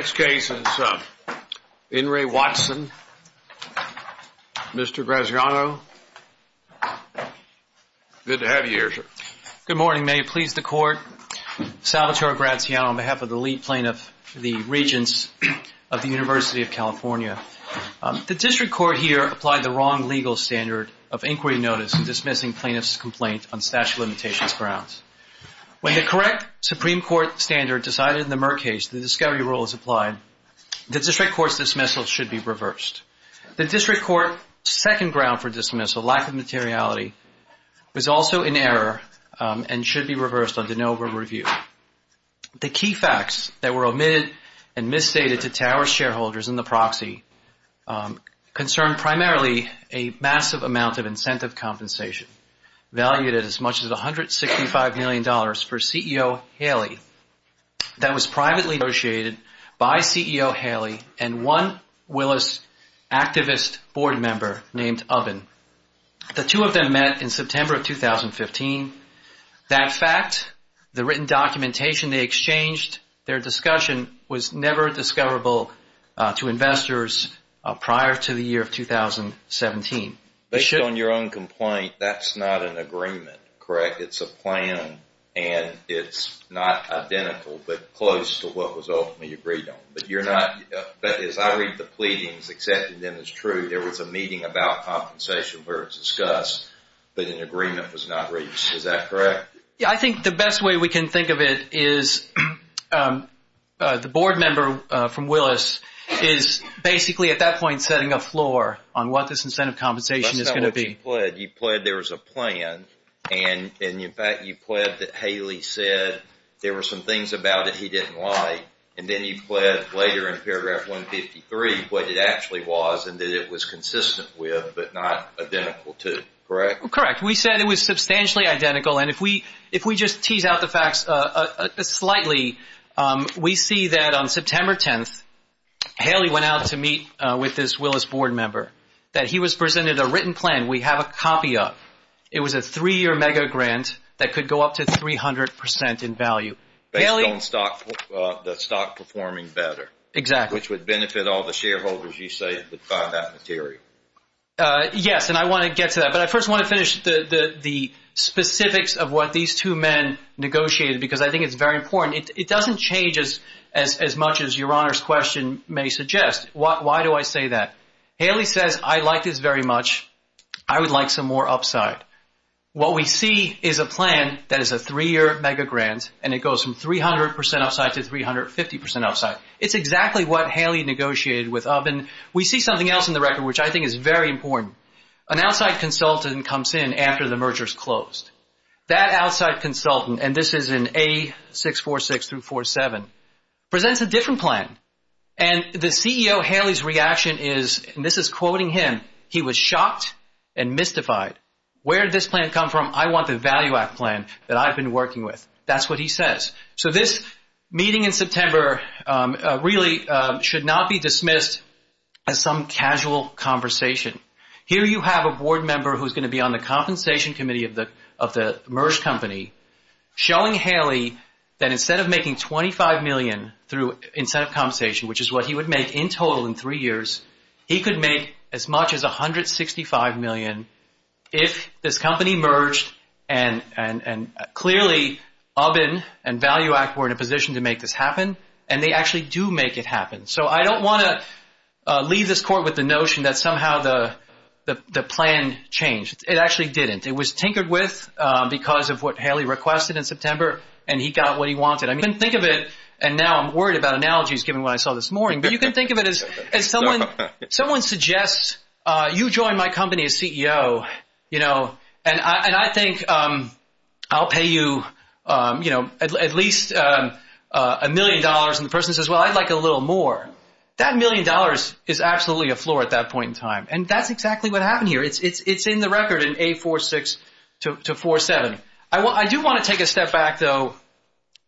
Next case is Enri Watson. Mr. Graziano, good to have you here, sir. Good morning. May it please the court, Salvatore Graziano on behalf of the lead plaintiff, the Regents of the University of California. The district court here applied the wrong legal standard of inquiry notice dismissing plaintiff's complaint on statute of limitations grounds. When the correct Supreme Court standard decided in the Murr case, the discovery rule was applied. The district court's dismissal should be reversed. The district court's second ground for dismissal, lack of materiality, was also in error and should be reversed under no over review. The key facts that were omitted and misstated to Towers shareholders in the proxy concerned primarily a massive amount of incentive compensation, valued at as much as $165 million for CEO Haley that was privately negotiated by CEO Haley and one Willis activist board member named Oven. The two of them met in September of 2015. That fact, the written documentation they exchanged, their discussion was never discoverable to investors prior to the year of 2017. Based on your own complaint, that's not an incentive compensation, correct? It's a plan and it's not identical but close to what was ultimately agreed on. But you're not, as I read the pleadings, accepting them as true, there was a meeting about compensation where it's discussed, but an agreement was not reached. Is that correct? Yeah, I think the best way we can think of it is the board member from Willis is basically at that point setting a floor on what this incentive compensation is going to be. That's not what you pled. You pled there was a plan and in fact you pled that Haley said there were some things about it he didn't like and then you pled later in paragraph 153 what it actually was and that it was consistent with but not identical to, correct? Correct. We said it was substantially identical and if we just tease out the facts slightly, we see that on September 10th, Haley went out to meet with this Willis board member, that he was presented a written plan, we have a copy of. It was a three-year mega grant that could go up to 300% in value. Based on the stock performing better. Exactly. Which would benefit all the shareholders you say that would buy that material. Yes and I want to get to that but I first want to finish the specifics of what these two men negotiated because I think it's very important. It doesn't change as much as your like this very much. I would like some more upside. What we see is a plan that is a three-year mega grant and it goes from 300% upside to 350% upside. It's exactly what Haley negotiated with and we see something else in the record which I think is very important. An outside consultant comes in after the merger is closed. That outside consultant and this is in A646 through A47 presents a different plan and the CEO Haley's reaction is, and this is quoting him, he was shocked and mystified. Where did this plan come from? I want the value act plan that I've been working with. That's what he says. So this meeting in September really should not be dismissed as some casual conversation. Here you have a board member who's going to be on the compensation committee of the merge company showing Haley that instead of making $25 million through incentive compensation which is what he would make in total in three years, he could make as much as $165 million if this company merged and clearly Aubin and value act were in a position to make this happen and they actually do make it happen. So I don't want to leave this court with the notion that somehow the plan changed. It actually didn't. It was tinkered with because of what Haley requested in September and he got what he wanted. I mean think of it and now I'm worried about analogies given what I saw this morning but you can think of it as someone suggests you join my company as CEO and I think I'll pay you at least a million dollars and the person says well I'd like a little more. That million dollars is absolutely a floor at that point in time and that's exactly what happened here. It's in the record in A46 to 47. I do want to take a step back though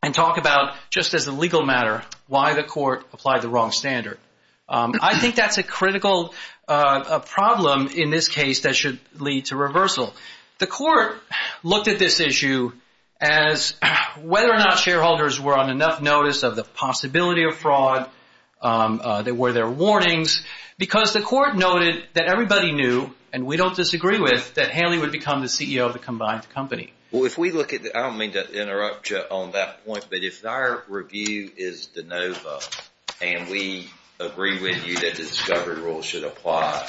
and talk about just as a legal matter why the court applied the wrong standard. I think that's a critical problem in this case that should lead to reversal. The court looked at this issue as whether or not shareholders were on enough notice of the possibility of fraud, were there warnings because the court noted that everybody knew and we don't disagree with that Haley would become the CEO of the combined company. If we look at, I don't mean to interrupt you on that point, but if our review is DeNova and we agree with you that the discovery rule should apply,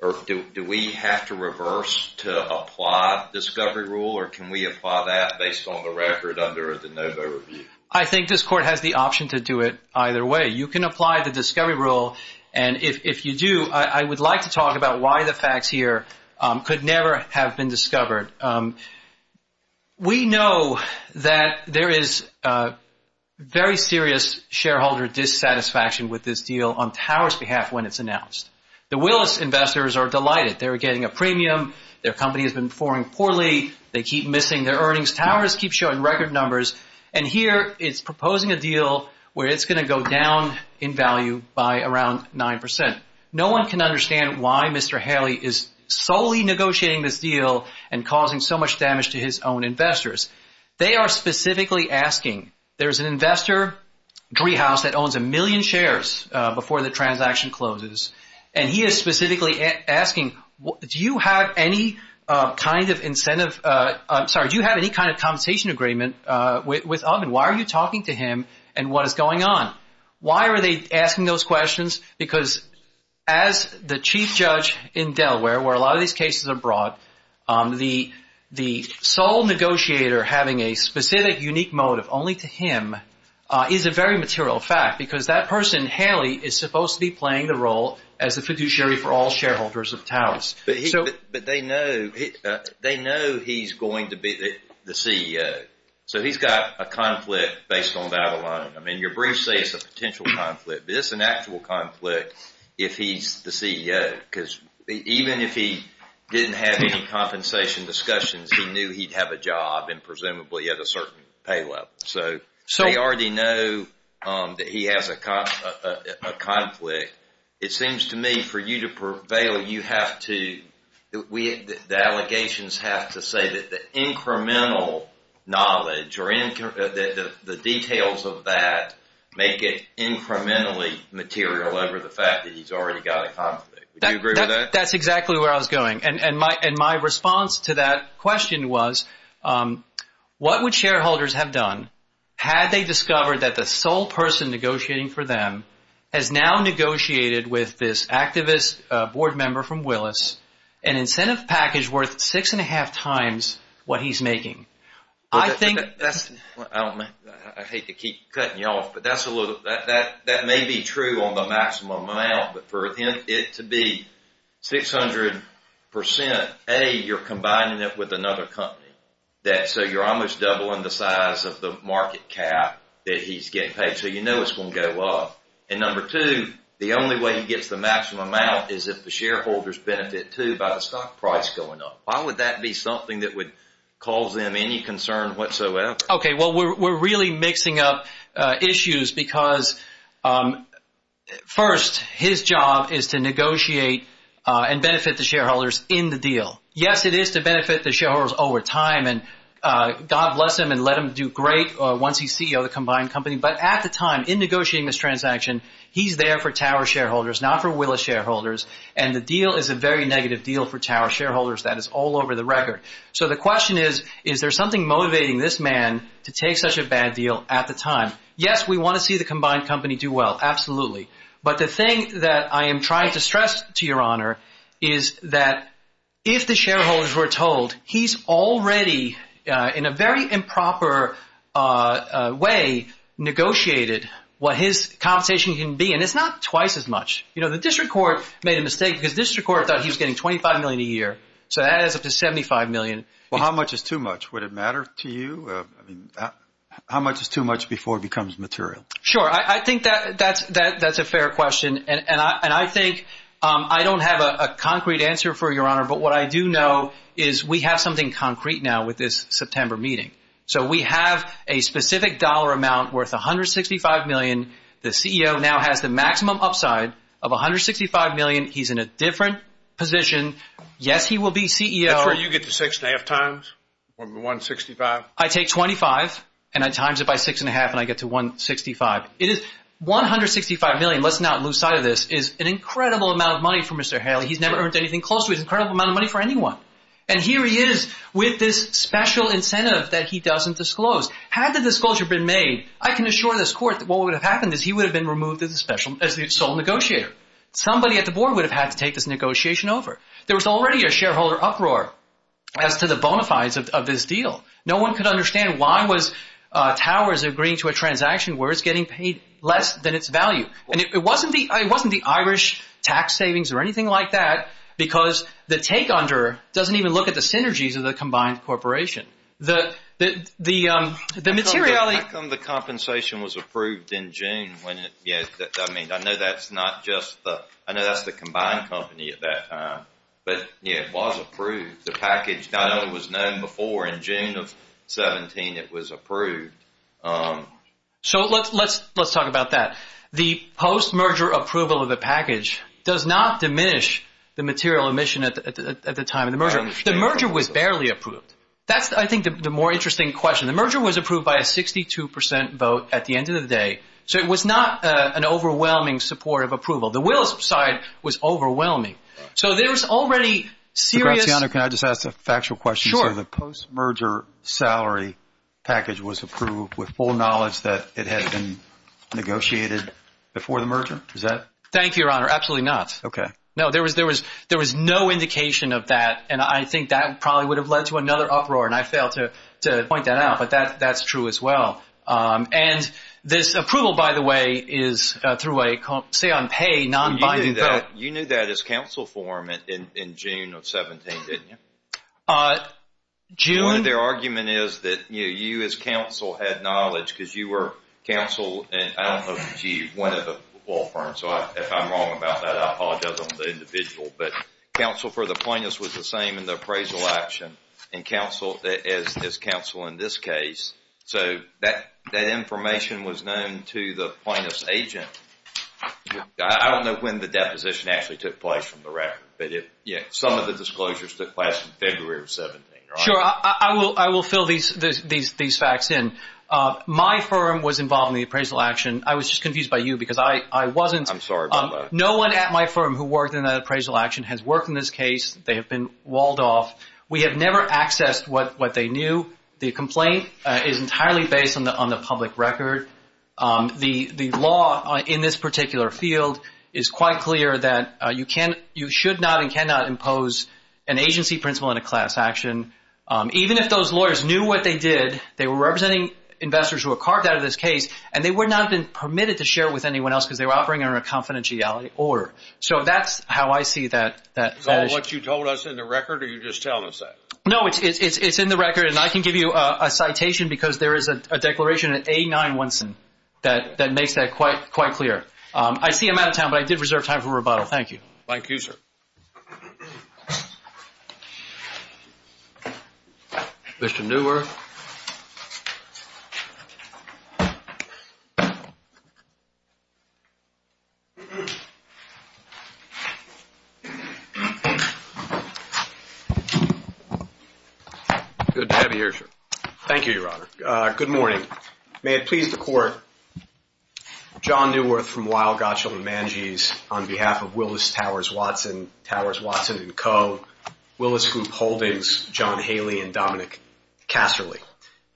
do we have to reverse to apply discovery rule or can we apply that based on the record under a DeNova review? I think this court has the option to do it either way. You can apply the discovery rule and if you do I would like to talk about why the facts here could never have been discovered. We know that there is very serious shareholder dissatisfaction with this deal on Towers' behalf when it's announced. The Willis investors are delighted. They're getting a premium. Their company has been performing poorly. They keep missing their earnings. Towers keeps showing record numbers and here it's proposing a deal where it's going to go down in value by around 9%. No one can understand why Mr. Haley is solely negotiating this deal and causing so much damage to his own investors. They are specifically asking, there's an investor that owns a million shares before the transaction closes and he is specifically asking, do you have any kind of compensation agreement with Uggen? Why are you talking to him and what is going on? Why are they asking those questions? Because as the chief the sole negotiator having a specific unique motive only to him is a very material fact because that person, Haley, is supposed to be playing the role as the fiduciary for all shareholders of Towers. They know he's going to be the CEO. So he's got a conflict based on that alone. Your brief says it's a potential conflict but it's an actual conflict if he's the CEO because even if he didn't have any compensation discussions he knew he'd have a job and presumably at a certain pay level. So they already know that he has a conflict. It seems to me for you to prevail you have to, the allegations have to say that the incremental knowledge or the details of that make it incrementally material over the fact that he's already got a conflict. Do you agree with that? That's exactly where I was going. And my response to that question was what would shareholders have done had they discovered that the sole person negotiating for them has now negotiated with this activist board member from Willis an incentive package worth six and a half times what he's making? I hate to keep cutting you off but that may be true on the maximum amount but for it to be 600% you're combining it with another company. So you're almost doubling the size of the market cap that he's getting paid. So you know it's going to go up. And number two, the only way he gets the maximum amount is if the shareholders benefit too by the stock price going up. Why would that be something that would cause them any concern whatsoever? We're really mixing up issues because first his job is to negotiate and benefit the shareholders in the deal. Yes it is to benefit the shareholders over time and God bless him and let him do great once he's CEO of the combined company but at the time in negotiating this transaction he's there for Tower shareholders not for Willis shareholders and the deal is a very negative deal for Tower shareholders that is all over the record. So the question is is there something motivating this man to take such a bad deal at the time? Yes we want to see the combined company do well absolutely but the thing that I am trying to stress to your honor is that if the shareholders were told he's already in a very improper way negotiated what his compensation can be and it's not twice as much. You know the district court made a mistake because the district court thought he was getting $25 million a year so that adds up to $75 million. Well how much is too much? Would it matter to you? How much is too much before it becomes material? Sure I think that's a fair question and I think I don't have a concrete answer for your honor but what I do know is we have something concrete now with this September meeting. So we have a specific dollar amount worth $165 million the CEO now has the maximum upside of $165 million. He's in a different position. Yes he will be CEO. That's where you get the six and a half times or the $165? I take $25 and I times it by six and a half and I get to $165. It is $165 million, let's not lose sight of this, is an incredible amount of money for Mr. Haley. He's never earned anything close to it. It's an incredible amount of money for anyone and here he is with this special incentive that he doesn't disclose. Had the disclosure been made I can assure this court that what would have happened is he would have been removed as the sole negotiator. Somebody at the board would have had to take this negotiation over. There was already a shareholder uproar as to the bona fides of this deal. No one could understand why was Towers agreeing to a transaction worth getting paid less than its value. It wasn't the Irish tax savings or anything like that because the take under doesn't even look at the synergies of the combined corporation. How come the compensation was approved in June? I know that's the combined company at that time. It was approved. The package was known before in June of 17 it was approved. Let's talk about that. The post merger approval of the merger was fairly approved. That's the more interesting question. The merger was approved by a 62% vote at the end of the day. It was not an overwhelming support of approval. The wills side was overwhelming. There's already serious... Can I just ask a factual question? The post merger salary package was approved with full knowledge that it had been negotiated before the merger? Thank you, Your Honor. Absolutely not. There was no indication of that and I think that probably would have led to another uproar and I failed to point that out, but that's true as well. This approval, by the way, is through a say-on-pay, non-binding vote. You knew that as counsel form in June of 17, didn't you? One of their argument is that you as counsel had knowledge because you were counsel and I don't know if it's you, one of the law firms. If I'm wrong about that, I apologize on the individual, but counsel for the plaintiffs was the same in the appraisal action as counsel in this case, so that information was known to the plaintiff's agent. I don't know when the deposition actually took place from the record, but some of the disclosures took place in February of 17, Your Honor. Sure. I will fill these facts in. My firm was involved in the appraisal action. I was just confused by you because I wasn't... I'm sorry about that. No one at my firm who worked in that appraisal action has worked in this case. They have been walled off. We have never accessed what they knew. The complaint is entirely based on the public record. The law in this particular field is quite clear that you should not and cannot impose an agency principle in a class action. Even if those lawyers knew what they did, they were representing investors who were carved out of this case and they would not have been permitted to share it with anyone else because they were operating under a confidentiality order. So that's how I see that. Is that what you told us in the record or are you just telling us that? No, it's in the record and I can give you a citation because there is a declaration at 89 Winson that makes that quite clear. I see I'm out of time, but I did reserve time for rebuttal. Thank you. Thank you, sir. Mr. Neuwer. Good to have you here, sir. Thank you, Your Honor. Good morning. May it please the Court, John Neuwer from Weill, Gottschall & Mangese on behalf of Willis Towers Watson, Towers, Watson & Co., Willis Group Holdings, John Haley and Dominic Casserly.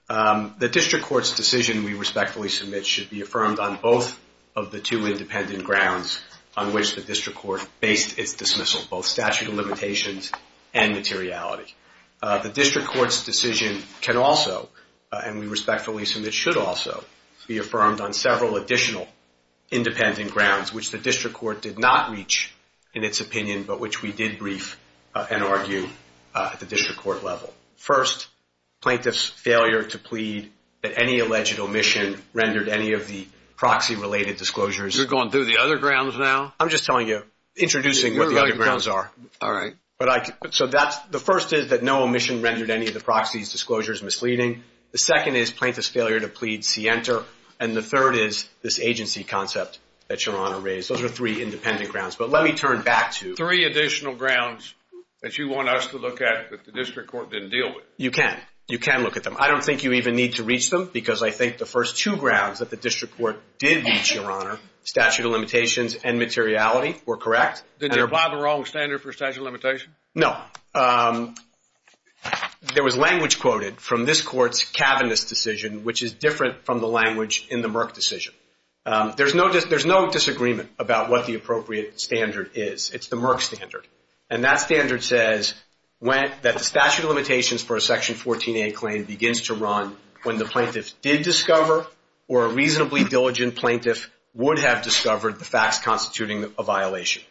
The District Court's decision we respectfully submit should be affirmed on both of the two independent grounds on which the District Court based its dismissal, both statute of limitations and materiality. The District Court's decision can also, and we respectfully submit should also, be affirmed on several additional independent grounds which the District Court did not reach in its opinion but which we did brief and argue at the District Court level. First, plaintiff's failure to plead that any alleged omission rendered any of the proxy-related disclosures. You're going through the other grounds now? I'm just telling you, introducing what the other grounds are. All right. So the first is that no omission rendered any of the proxies' disclosures misleading. The second is plaintiff's failure to plead see enter. And the third is this agency concept that Your Honor raised. Those are three independent grounds. But let me turn back to additional grounds that you want us to look at that the District Court didn't deal with. You can. You can look at them. I don't think you even need to reach them because I think the first two grounds that the District Court did reach, Your Honor, statute of limitations and materiality, were correct. Did they apply the wrong standard for statute of limitations? No. There was language quoted from this Court's cabinet's decision which is different from the language in the Merck decision. There's no disagreement about what the appropriate standard is. It's the Merck standard. And that standard says that the statute of limitations for a Section 14a claim begins to run when the plaintiff did discover or a reasonably diligent plaintiff would have discovered the facts constituting a violation.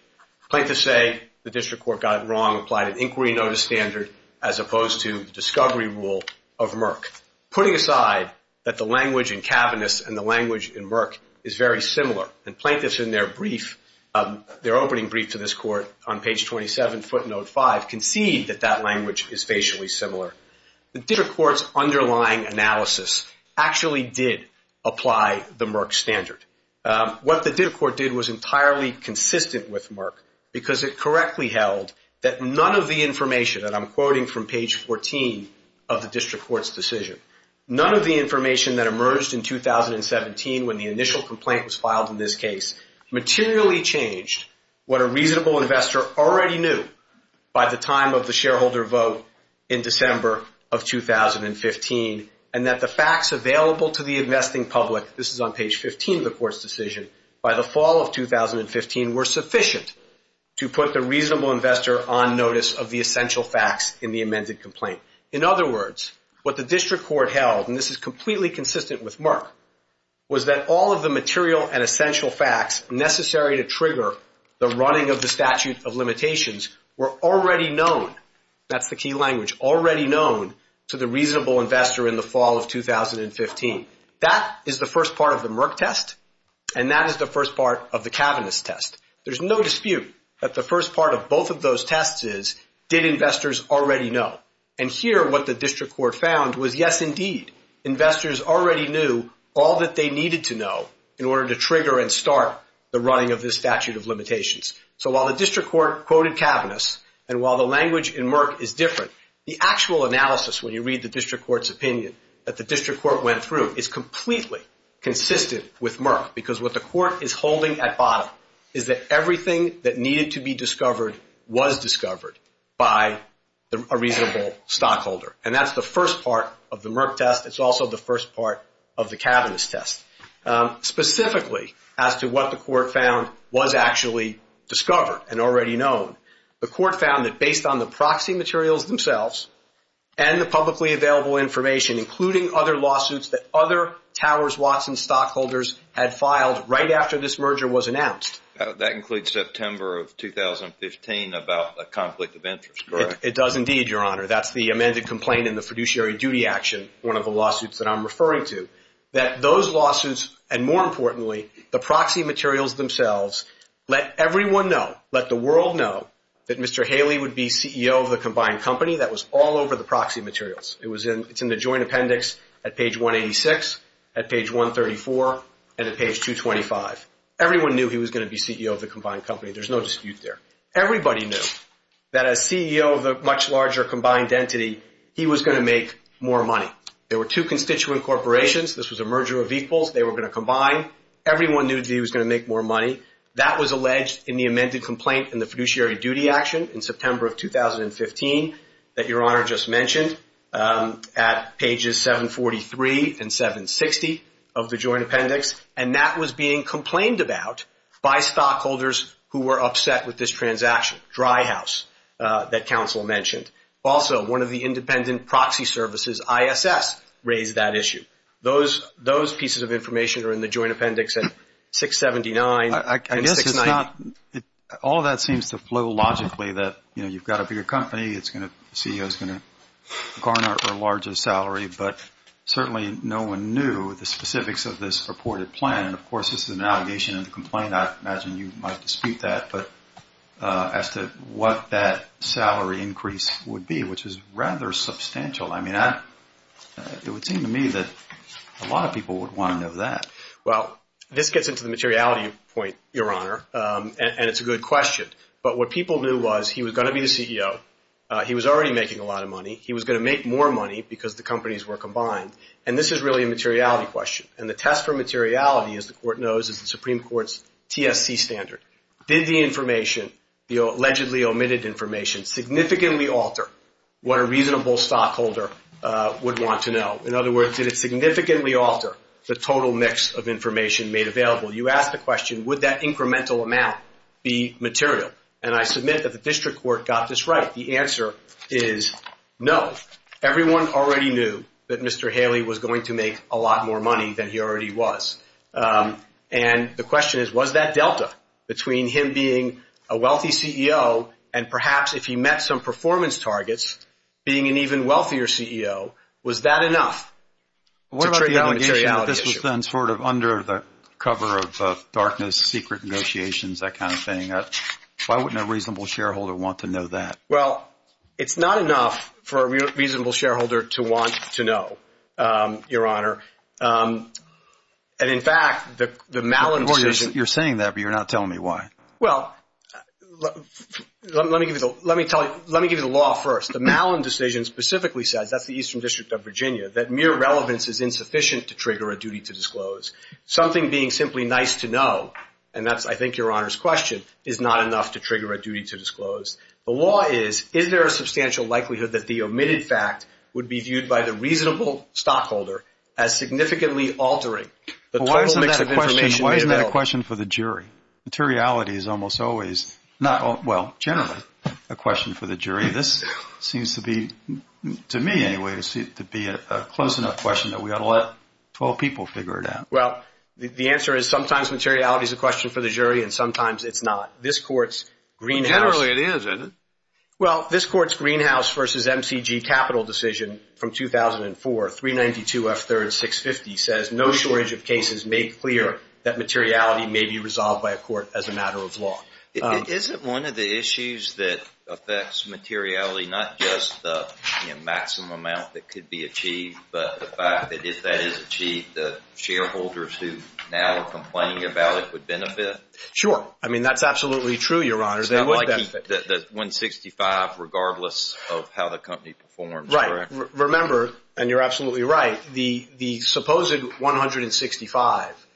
Plaintiffs say the District Court got it wrong, applied an inquiry notice standard as opposed to the discovery rule of Merck. Putting aside that the language in cabinet's and the language in Merck is very similar, and plaintiffs in their brief, their opening brief to this Court on page 27, footnote 5, concede that that language is facially similar, the District Court's underlying analysis actually did apply the Merck standard. What the District Court did was entirely consistent with Merck because it correctly held that none of the information that I'm quoting from page 14 of the District Court's decision, none of the information that emerged in 2017 when the initial complaint was filed in this case, materially changed what a reasonable investor already knew by the time of the shareholder vote in December of 2015, and that the facts available to the investing public, this is on page 15 of the Court's decision, by the fall of 2015 were sufficient to put the reasonable investor on notice of the essential facts in the amended complaint. In other words, what the District Court held, and this is completely consistent with Merck, was that all of the material and essential facts necessary to trigger the running of the statute of limitations were already known, that's the key language, already known to the reasonable investor in the fall of 2015. That is the first part of the Merck test, and that is the first part of the cabinet's test. There's no dispute that the first part of both of those tests is, did investors already know? And here, what the District Court found was, yes, indeed, investors already knew all that they needed to know in order to trigger and start the running of this statute of limitations. So while the District Court quoted cabinets, and while the language in Merck is different, the actual analysis, when you read the District Court's opinion that the District Court went through, is completely consistent with Merck, because what the Court is holding at bottom is that everything that needed to be discovered was discovered by a reasonable stockholder. And that's the first part of the Merck test. It's also the first part of the cabinet's test. Specifically, as to what the Court found was actually discovered and already known, the Court found that based on the proxy materials themselves and the publicly available information, including other lawsuits that other Towers Watson stockholders had filed right after this merger was announced. That includes September of 2015 about a conflict of interest, correct? It does indeed, Your Honor. That's the amended complaint in the fiduciary duty action, one of the lawsuits that I'm referring to. That those lawsuits, and more importantly, the proxy materials themselves, let everyone know, let the world know, that Mr. Haley would be CEO of the combined company that was all over the proxy materials. It's in the joint appendix at page 186, at page 134, and at page 225. Everyone knew he was going to be CEO of the combined company. There's no dispute there. Everybody knew that as CEO of the much larger combined entity, he was going to make more money. There were two constituent corporations. This was a merger of equals. They were going to combine. Everyone knew that he was going to make more money. That was alleged in the amended complaint in the fiduciary duty action in September of 2015 that Your Honor just mentioned, at pages 743 and 760 of the joint appendix, and that was being complained about by stockholders who were upset with this transaction, Dry House, that counsel mentioned. Also, one of the independent proxy services, ISS, raised that issue. Those pieces of information are in the joint appendix at 679 and 690. All of that seems to flow logically that, you know, you've got a bigger company, the CEO is going to garner a larger salary, but certainly no one knew the specifics of this reported plan, and of course, this is an allegation in the complaint. I imagine you might dispute that, but as to what that salary increase would be, which is rather substantial. I mean, it would seem to me that a lot of people would want to know that. Well, this gets into the materiality point, Your Honor, and it's a good question. But what people knew was he was going to be the CEO, he was already making a lot of money, he was going to make more money because the companies were combined, and this is really a materiality question. And the test for materiality, as the Court knows, is the Supreme Court's TSC standard. Did the information, the allegedly omitted information, significantly alter what a reasonable stockholder would want to know? In other words, did it significantly alter the total mix of information made available? You ask the question, would that incremental amount be material? And I submit that the District Court got this right. The answer is no. Everyone already knew that Mr. Haley was going to make a lot more money than he already was. And the question is, was that delta between him being a wealthy CEO and perhaps if he What about the allegation that this was done sort of under the cover of darkness, secret negotiations, that kind of thing? Why wouldn't a reasonable shareholder want to know that? Well, it's not enough for a reasonable shareholder to want to know, Your Honor. And in fact, the Malin decision... You're saying that, but you're not telling me why. Well, let me give you the law first. The Malin decision specifically says, that's the Eastern District of Virginia, that mere relevance is insufficient to trigger a duty to disclose. Something being simply nice to know, and that's, I think, Your Honor's question, is not enough to trigger a duty to disclose. The law is, is there a substantial likelihood that the omitted fact would be viewed by the reasonable stockholder as significantly altering the total mix of information made available? Why isn't that a question for the jury? This seems to be, to me anyway, to be a close enough question that we ought to let 12 people figure it out. Well, the answer is, sometimes materiality is a question for the jury, and sometimes it's not. This Court's greenhouse... Generally, it is, isn't it? Well, this Court's greenhouse versus MCG capital decision from 2004, 392 F3rd 650, says, no shortage of cases make clear that materiality may be resolved by a court as a matter of law. Isn't one of the issues that affects materiality not just the maximum amount that could be achieved, but the fact that if that is achieved, the shareholders who now are complaining about it would benefit? Sure. I mean, that's absolutely true, Your Honor. It's not like the 165, regardless of how the company performs, correct? Right. Remember, and you're absolutely right, the supposed 165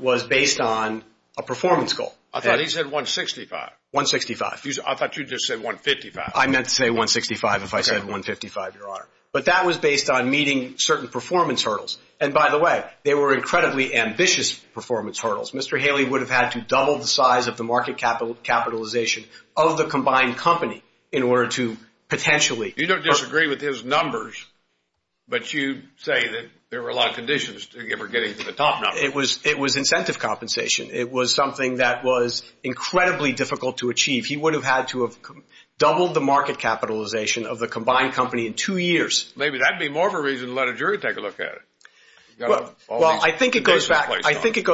was based on a performance goal. I thought he said 165. 165. I thought you just said 155. I meant to say 165 if I said 155, Your Honor. But that was based on meeting certain performance hurdles. And by the way, they were incredibly ambitious performance hurdles. Mr. Haley would have had to double the size of the market capitalization of the combined company in order to potentially... You don't disagree with his numbers, but you say that there were a lot of conditions to ever getting to the top number. It was incentive compensation. It was something that was incredibly difficult to achieve. He would have had to have doubled the market capitalization of the combined company in two years. Maybe that'd be more of a reason to let a jury take a look at it. Well, I think it goes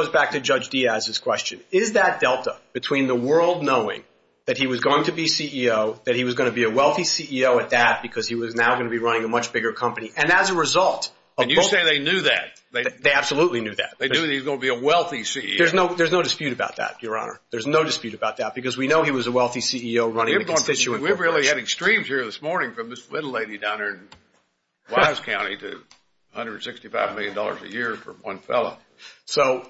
back to Judge Diaz's question. Is that delta between the world knowing that he was going to be CEO, that he was going to be a wealthy CEO at that because he was now going to be running a much bigger company? And as a result... And you say they knew that. They absolutely knew that. They knew he was going to be a wealthy CEO. There's no dispute about that, Your Honor. There's no dispute about that because we know he was a wealthy CEO running a constituent corporation. We're really hitting streams here this morning from this little lady down here in Wise County to $165 million a year for one fellow. So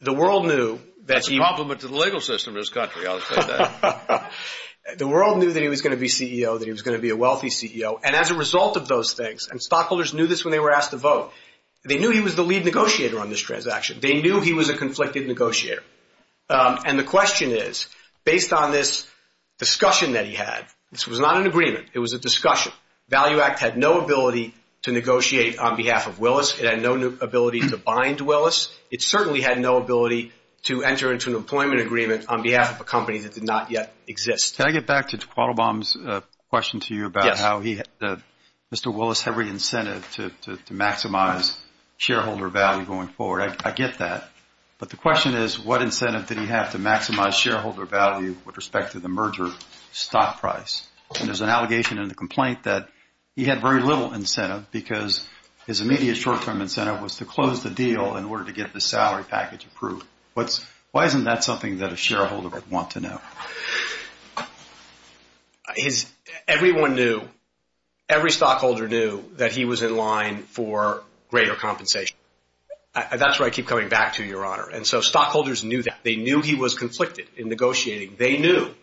the world knew... That's a compliment to the legal system in this country, I'll say that. The world knew that he was going to be CEO, that he was going to be a wealthy CEO. And as a result of those things, and stockholders knew this when they were asked to vote, they knew he was the lead negotiator on this transaction. They knew he was a conflicted negotiator. And the question is, based on this discussion that he had, this was not an agreement. It was a discussion. Value Act had no ability to negotiate on behalf of Willis. It had no ability to bind Willis. It certainly had no ability to enter into an employment agreement on behalf of a company that did not yet exist. Can I get back to Qualabom's question to you about how Mr. Willis had re-incentived to maximize shareholder value going forward? I get that. But the question is, what incentive did he have to maximize shareholder value with respect to the merger stock price? And there's an allegation in the complaint that he had very little incentive because his immediate short-term incentive was to close the deal in order to get the salary package approved. Why isn't that something that a shareholder would want to know? Everyone knew, every stockholder knew that he was in line for greater compensation. That's where I keep coming back to, Your Honor. And so stockholders knew that. They knew he was conflicted in negotiating. They knew,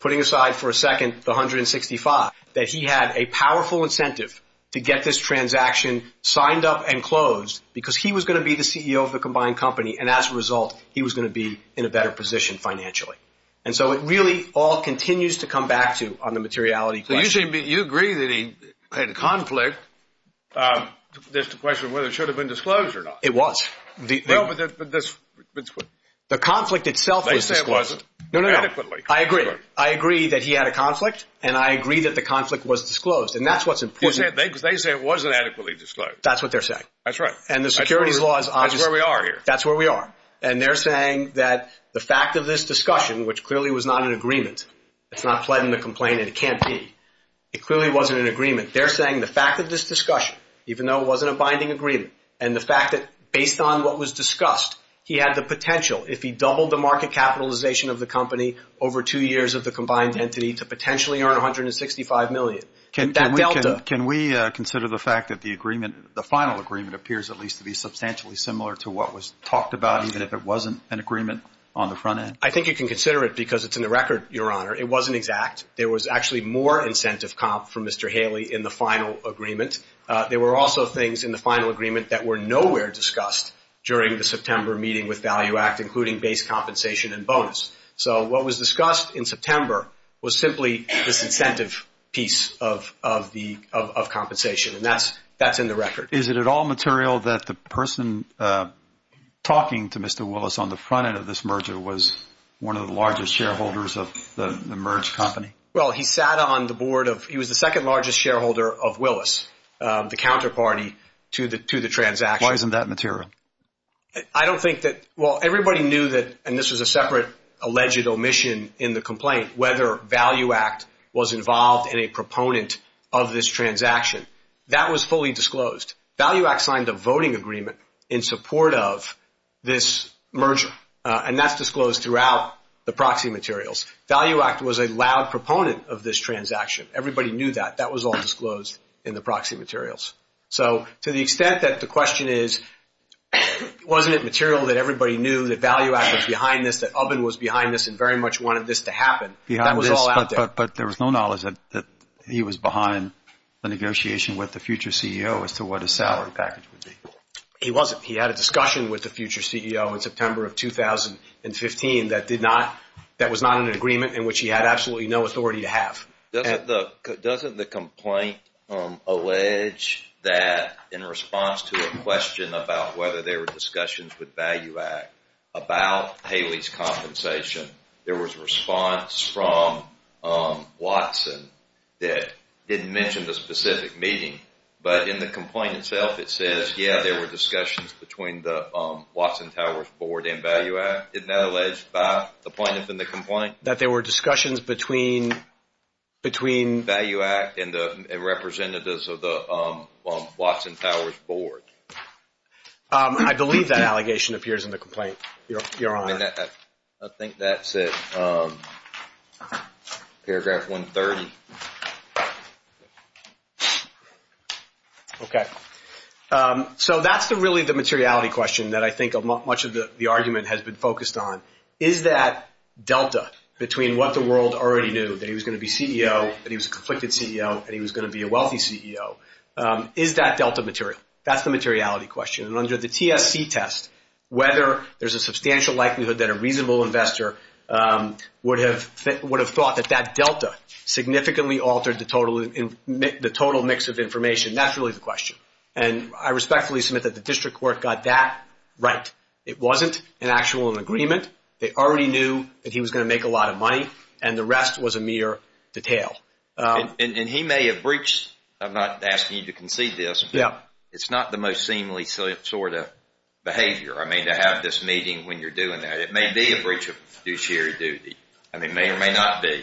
putting aside for a second the $165,000, that he had a powerful incentive to get this transaction signed up and closed because he was going to be the CEO of the combined company. And as a result, he was going to be in a better position financially. And so it really all continues to come back to on the materiality question. You agree that he had a conflict. There's the question of whether it should have been disclosed or not. It was. The conflict itself was disclosed. No, no, no. I agree. I agree that he had a conflict, and I agree that the conflict was disclosed. And that's what's important. They say it wasn't adequately disclosed. That's what they're saying. That's right. And the securities law is obvious. That's where we are here. That's where we are. And they're saying that the fact of this discussion, which clearly was not an agreement, it's not fled in the complaint, and it can't be. It clearly wasn't an agreement. They're saying the fact of this discussion, even though it wasn't a binding agreement, and the fact that based on what was discussed, he had the potential, if he doubled the market capitalization of the company over two years of the combined entity to potentially earn $165 million, that delta. Can we consider the fact that the agreement, the final agreement, appears at least to be substantially similar to what was talked about, even if it wasn't an agreement on the front end? I think you can consider it because it's in the record, Your Honor. It wasn't exact. There was actually more incentive comp for Mr. Haley in the final agreement. There were also things in the final agreement that were nowhere discussed during the September meeting with Value Act, including base compensation and bonus. So what was discussed in September was simply this incentive piece of compensation. And that's in the record. Is it at all material that the person talking to Mr. Willis on the front end of this merger was one of the largest shareholders of the merged company? Well, he sat on the board of... He was the second largest shareholder of Willis, the counterparty to the transaction. Why isn't that material? I don't think that... Well, everybody knew that, and this was a separate alleged omission in the complaint, whether Value Act was involved in a proponent of this transaction. That was fully disclosed. Value Act signed a voting agreement in support of this merger. And that's disclosed throughout the proxy materials. Value Act was a loud proponent of this transaction. Everybody knew that. That was all disclosed in the proxy materials. So to the extent that the question is, wasn't it material that everybody knew that Value Act was behind this, that Ubin was behind this and very much wanted this to happen, that was all out there. But there was no knowledge that he was behind the negotiation with the future CEO as to what his salary package would be. He wasn't. He had a discussion with the future CEO in September of 2015 that was not in an agreement in which he had absolutely no authority to have. Doesn't the complaint allege that in response to a question about whether there were discussions with Value Act about Haley's compensation, there was a response from Watson that didn't mention the specific meeting. But in the complaint itself, it says, yeah, there were discussions between the Watson Towers Board and Value Act. Isn't that alleged by the plaintiff in the complaint? That there were discussions between Value Act and the representatives of the Watson Towers Board. I believe that allegation appears in the complaint, Your Honor. I think that's it. Paragraph 130. Okay. So that's really the materiality question that I think much of the argument has been focused on. Is that delta between what the world already knew, that he was going to be CEO, that he was a conflicted CEO, and he was going to be a wealthy CEO. Is that delta material? That's the materiality question. And under the TSC test, whether there's a substantial likelihood that a reasonable investor would have thought that that delta significantly altered the total mix of information, that's really the question. And I respectfully submit that the district court got that right. It wasn't an actual agreement. They already knew that he was going to make a lot of money. And the rest was a mere detail. And he may have breached, I'm not asking you to concede this, but it's not the most seemly sort of behavior. I mean, to have this meeting when you're doing that. It may be a breach of fiduciary duty. I mean, it may or may not be.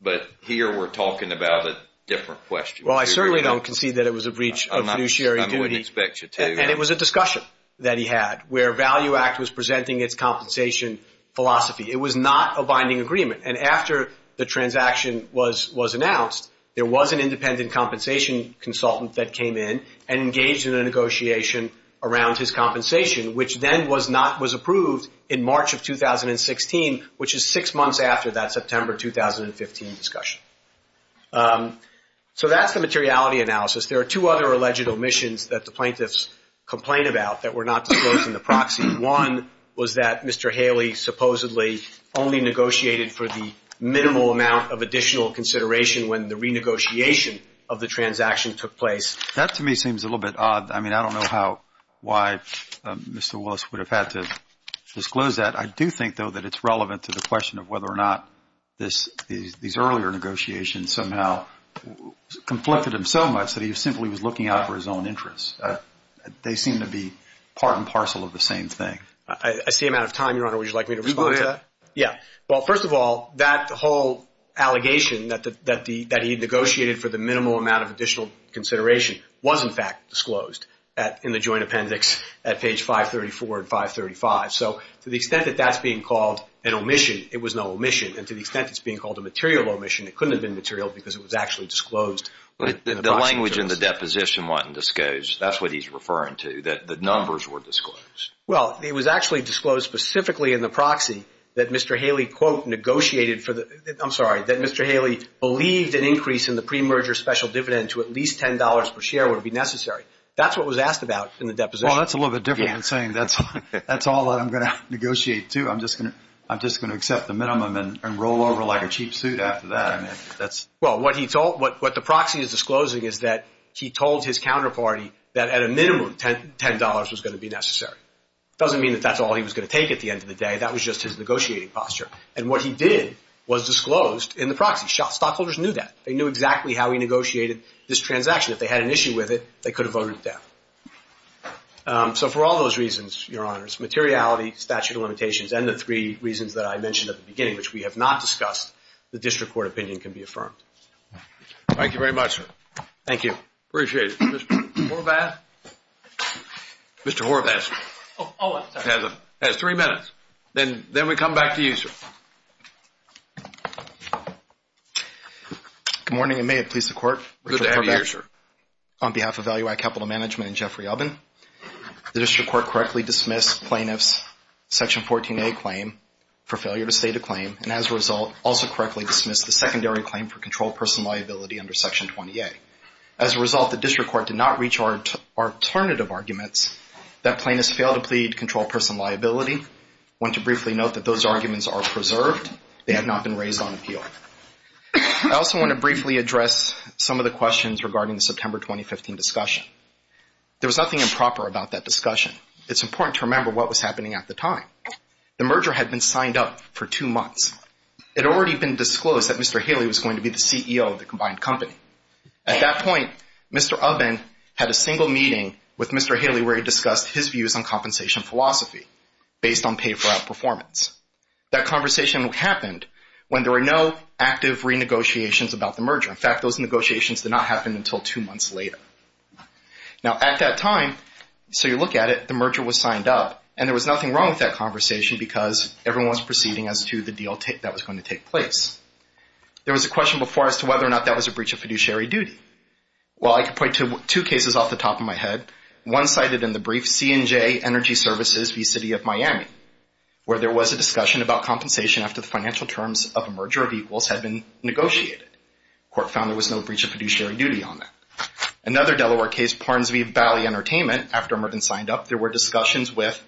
But here we're talking about a different question. Well, I certainly don't concede that it was a breach of fiduciary duty. I wouldn't expect you to. And it was a discussion that he had where Value Act was presenting its compensation philosophy. It was not a binding agreement. And after the transaction was announced, there was an independent compensation consultant that came in and engaged in a negotiation around his compensation, which then was not approved in March of 2016, which is six months after that September 2015 discussion. So that's the materiality analysis. There are two other alleged omissions that the plaintiffs complain about that were not disclosed in the proxy. One was that Mr. Haley supposedly only negotiated for the minimal amount of additional consideration when the renegotiation of the transaction took place. That to me seems a little bit odd. I mean, I don't know why Mr. Willis would have had to disclose that. I do think, though, that it's relevant to the question of whether or not these earlier negotiations somehow conflicted him so much that he simply was looking out for his own interests. They seem to be part and parcel of the same thing. I see I'm out of time, Your Honor. Would you like me to respond to that? Yeah. Well, first of all, that whole allegation that he negotiated for the minimal amount of additional consideration was, in fact, disclosed in the joint appendix at page 534 and 535. So to the extent that that's being called an omission, it was no omission. And to the extent it's being called a material omission, it couldn't have been material because it was actually disclosed. But the language in the deposition wasn't disclosed. That's what he's referring to, that the numbers were disclosed. Well, it was actually disclosed specifically in the proxy that Mr. Haley, quote, negotiated I'm sorry, that Mr. Haley believed an increase in the pre-merger special dividend to at least $10 per share would be necessary. That's what was asked about in the deposition. Well, that's a little bit different than saying that's all I'm going to negotiate, too. I'm just going to accept the minimum and roll over like a cheap suit after that. Well, what the proxy is disclosing is that he told his counterparty that at a minimum $10 was going to be necessary. It doesn't mean that that's all he was going to take at the end of the day. That was just his negotiating posture. And what he did was disclosed in the proxy. Stockholders knew that. They knew exactly how he negotiated this transaction. If they had an issue with it, they could have voted it down. So for all those reasons, your honors, materiality, statute of limitations, and the three reasons that I mentioned at the beginning, which we have not discussed, the district court opinion can be affirmed. Thank you very much, sir. Thank you. Appreciate it. Mr. Horvath? Mr. Horvath has three minutes. Then we come back to you, sir. Good morning, and may it please the court. Good to have you here, sir. On behalf of Value Act Capital Management and Jeffrey Ubbin, the district court correctly dismissed plaintiff's Section 14a claim for failure to state a claim, and as a result, also correctly dismissed the secondary claim for controlled person liability under Section 20a. As a result, the district court did not reach our alternative arguments that plaintiffs failed to plead controlled person liability. I want to briefly note that those arguments are preserved. They have not been raised on appeal. I also want to briefly address some of the questions regarding the September 2015 discussion. There was nothing improper about that discussion. It's important to remember what was happening at the time. The merger had been signed up for two months. It had already been disclosed that Mr. Haley was going to be the CEO of the combined company. At that point, Mr. Ubbin had a single meeting with Mr. Haley where he discussed his views on compensation philosophy based on pay-for-out performance. That conversation happened when there were no active renegotiations about the merger. In fact, those negotiations did not happen until two months later. Now, at that time, so you look at it, the merger was signed up, and there was nothing wrong with that conversation because everyone was proceeding as to the deal that was going to take place. There was a question before as to whether or not that was a breach of fiduciary duty. Well, I could point to two cases off the top of my head. One cited in the brief, C&J Energy Services v. City of Miami, where there was a discussion about compensation after the financial terms of a merger of equals had been negotiated. The court found there was no breach of fiduciary duty on that. Another Delaware case, Parnes v. Valley Entertainment, after Merton signed up, there were discussions with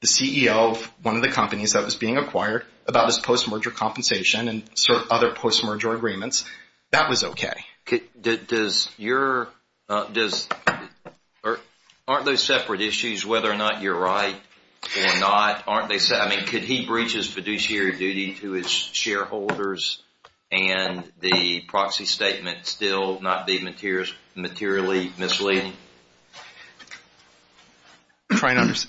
the CEO of one of the companies that was being acquired about his post-merger compensation and other post-merger agreements. That was okay. Does your, does, aren't those separate issues whether or not you're right or not? Aren't they separate? I mean, could he breach his fiduciary duty to his shareholders and the proxy statement still not be materially misleading?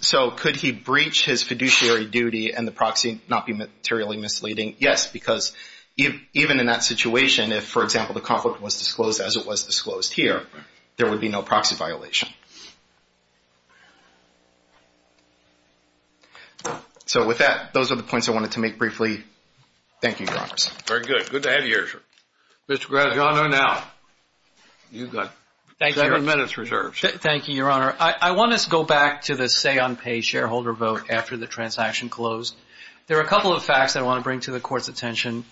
So, could he breach his fiduciary duty and the proxy not be materially misleading? Yes, because even in that situation, if, for example, the conflict was disclosed as it was disclosed here, there would be no proxy violation. So, with that, those are the points I wanted to make briefly. Thank you, Your Honor. Very good. Good to have you here, sir. Mr. Graziano, now. You've got seven minutes reserved. Thank you, Your Honor. I want us to go back to the say-on-pay shareholder vote after the transaction closed. There are a couple of facts I want to bring to the Court's attention.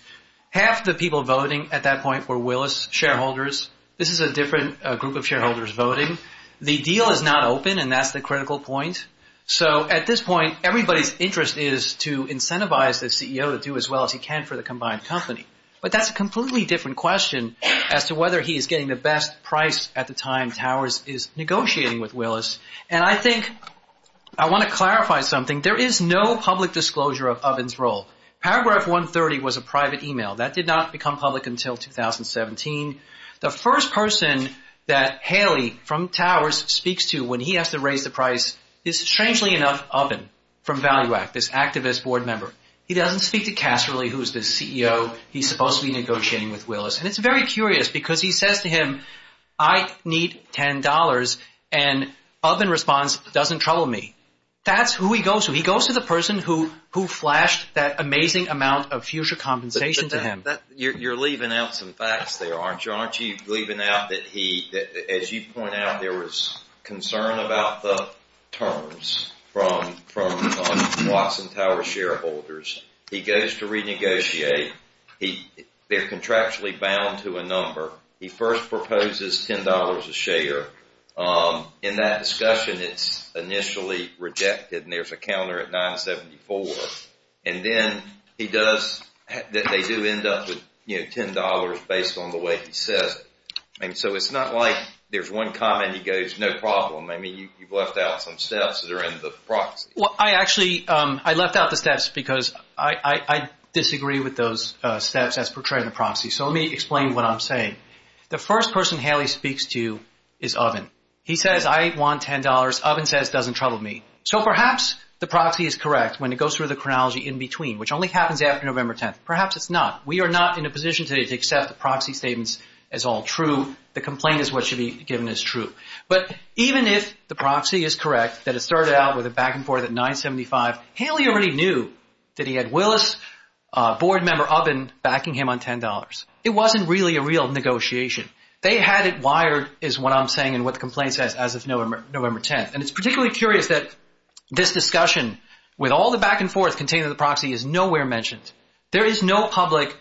Half the people voting at that point were Willis shareholders. This is a different group of shareholders voting. The deal is not open, and that's the critical point. So, at this point, everybody's interest is to incentivize the CEO to do as well as he can for the combined company. But that's a completely different question as to whether he is getting the best price at the time Towers is negotiating with Willis. And I think I want to clarify something. There is no public disclosure of Oven's role. Paragraph 130 was a private email. That did not become public until 2017. The first person that Haley from Towers speaks to when he has to raise the price is, strangely enough, Oven from Value Act, this activist board member. He doesn't speak to Casserly, who is the CEO he's supposed to be negotiating with Willis. It's very curious, because he says to him, I need $10, and Oven responds, doesn't trouble me. That's who he goes to. He goes to the person who flashed that amazing amount of future compensation to him. You're leaving out some facts there, aren't you? Aren't you leaving out that, as you point out, there was concern about the terms from Watson Towers shareholders. He goes to renegotiate. They're contractually bound to a number. He first proposes $10 a share. In that discussion, it's initially rejected, and there's a counter at $9.74. And then they do end up with $10 based on the way he says it. And so it's not like there's one comment he goes, no problem. I mean, you've left out some steps that are in the proxy. I actually left out the steps because I disagree with those steps as portrayed in the proxy. So let me explain what I'm saying. The first person Haley speaks to is Oven. He says, I want $10. Oven says, doesn't trouble me. So perhaps the proxy is correct when it goes through the chronology in between, which only happens after November 10th. Perhaps it's not. We are not in a position today to accept the proxy statements as all true. The complaint is what should be given as true. But even if the proxy is correct, that it started out with a back and forth at $9.75, Haley already knew that he had Willis, board member Oven, backing him on $10. It wasn't really a real negotiation. They had it wired, is what I'm saying, and what the complaint says as of November 10th. And it's particularly curious that this discussion with all the back and forth contained in the proxy is nowhere mentioned. There is no public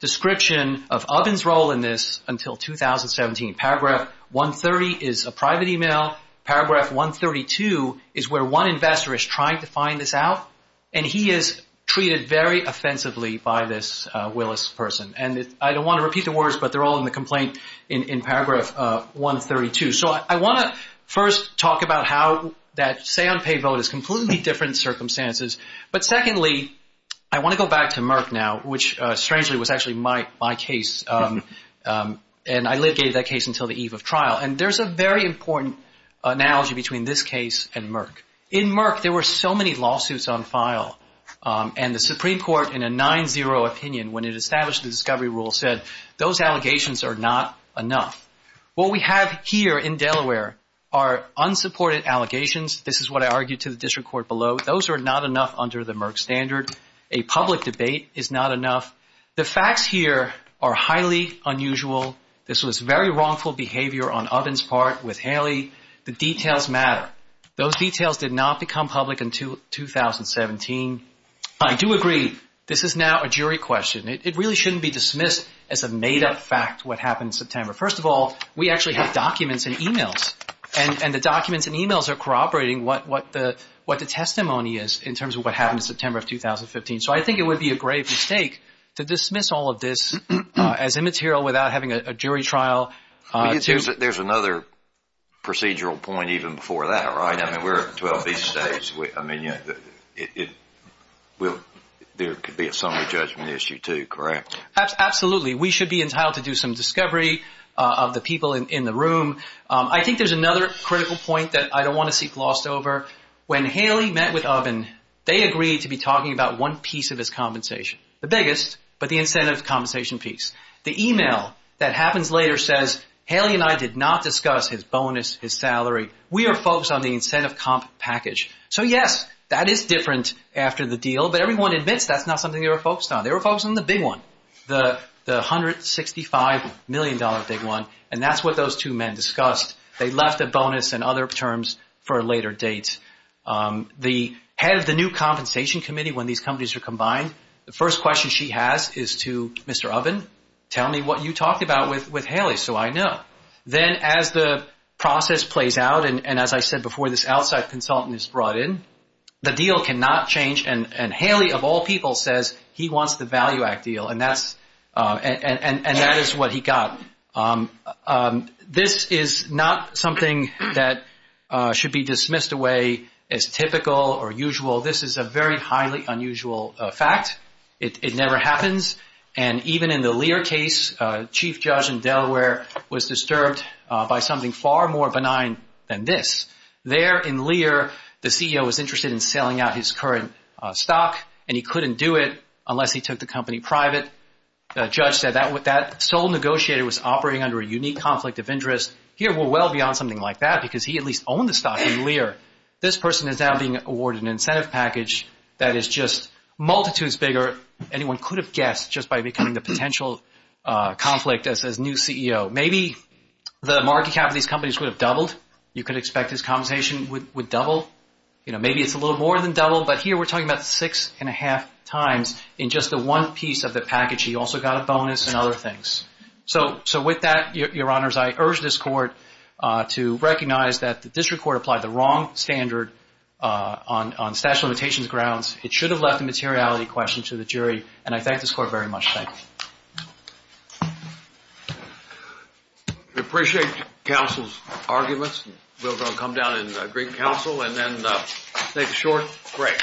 description of Oven's role in this until 2017. Paragraph 130 is a private email. Paragraph 132 is where one investor is trying to find this out. And he is treated very offensively by this Willis person. And I don't want to repeat the words, but they're all in the complaint in paragraph 132. So I want to first talk about how that say on pay vote is completely different circumstances. But secondly, I want to go back to Merck now, which strangely was actually my case. And I litigated that case until the eve of trial. And there's a very important analogy between this case and Merck. In Merck, there were so many lawsuits on file. And the Supreme Court in a 9-0 opinion when it established the discovery rule said, those allegations are not enough. What we have here in Delaware are unsupported allegations. This is what I argued to the district court below. Those are not enough under the Merck standard. A public debate is not enough. The facts here are highly unusual. This was very wrongful behavior on Oven's part with Haley. The details matter. Those details did not become public until 2017. I do agree. This is now a jury question. It really shouldn't be dismissed as a made-up fact what happened in September. First of all, we actually have documents and emails. And the documents and emails are corroborating what the testimony is in terms of what happened in September of 2015. So I think it would be a grave mistake to dismiss all of this as immaterial without having a jury trial. There's another procedural point even before that, right? I mean, we're at 12B stage. There could be a summary judgment issue too, correct? Absolutely. We should be entitled to do some discovery of the people in the room. I think there's another critical point that I don't want to see glossed over. When Haley met with Oven, they agreed to be talking about one piece of his compensation. The biggest, but the incentive compensation piece. The email that happens later says, Haley and I did not discuss his bonus, his salary. We are focused on the incentive comp package. So yes, that is different after the deal. But everyone admits that's not something they were focused on. They were focused on the big one, the $165 million big one. And that's what those two men discussed. They left a bonus and other terms for a later date. The head of the new compensation committee, when these companies are combined, the first question she has is to Mr. Oven, tell me what you talked about with Haley so I know. Then as the process plays out, and as I said before, this outside consultant is brought in, the deal cannot change. And Haley, of all people, says he wants the Value Act deal, and that is what he got. Now, this is not something that should be dismissed away as typical or usual. This is a very highly unusual fact. It never happens. And even in the Lear case, Chief Judge in Delaware was disturbed by something far more benign than this. There in Lear, the CEO was interested in selling out his current stock, and he couldn't do it unless he took the company private. Judge said that sole negotiator was operating under a unique conflict of interest. Here we're well beyond something like that because he at least owned the stock in Lear. This person is now being awarded an incentive package that is just multitudes bigger. Anyone could have guessed just by becoming the potential conflict as new CEO. Maybe the market cap of these companies would have doubled. You could expect his compensation would double. Maybe it's a little more than double. But here we're talking about six and a half times in just the one piece of the package. He also got a bonus and other things. So with that, Your Honors, I urge this Court to recognize that the District Court applied the wrong standard on statute of limitations grounds. It should have left a materiality question to the jury. And I thank this Court very much. Thank you. We appreciate counsel's arguments. We're going to come down and bring counsel and then make a short break. Thank you.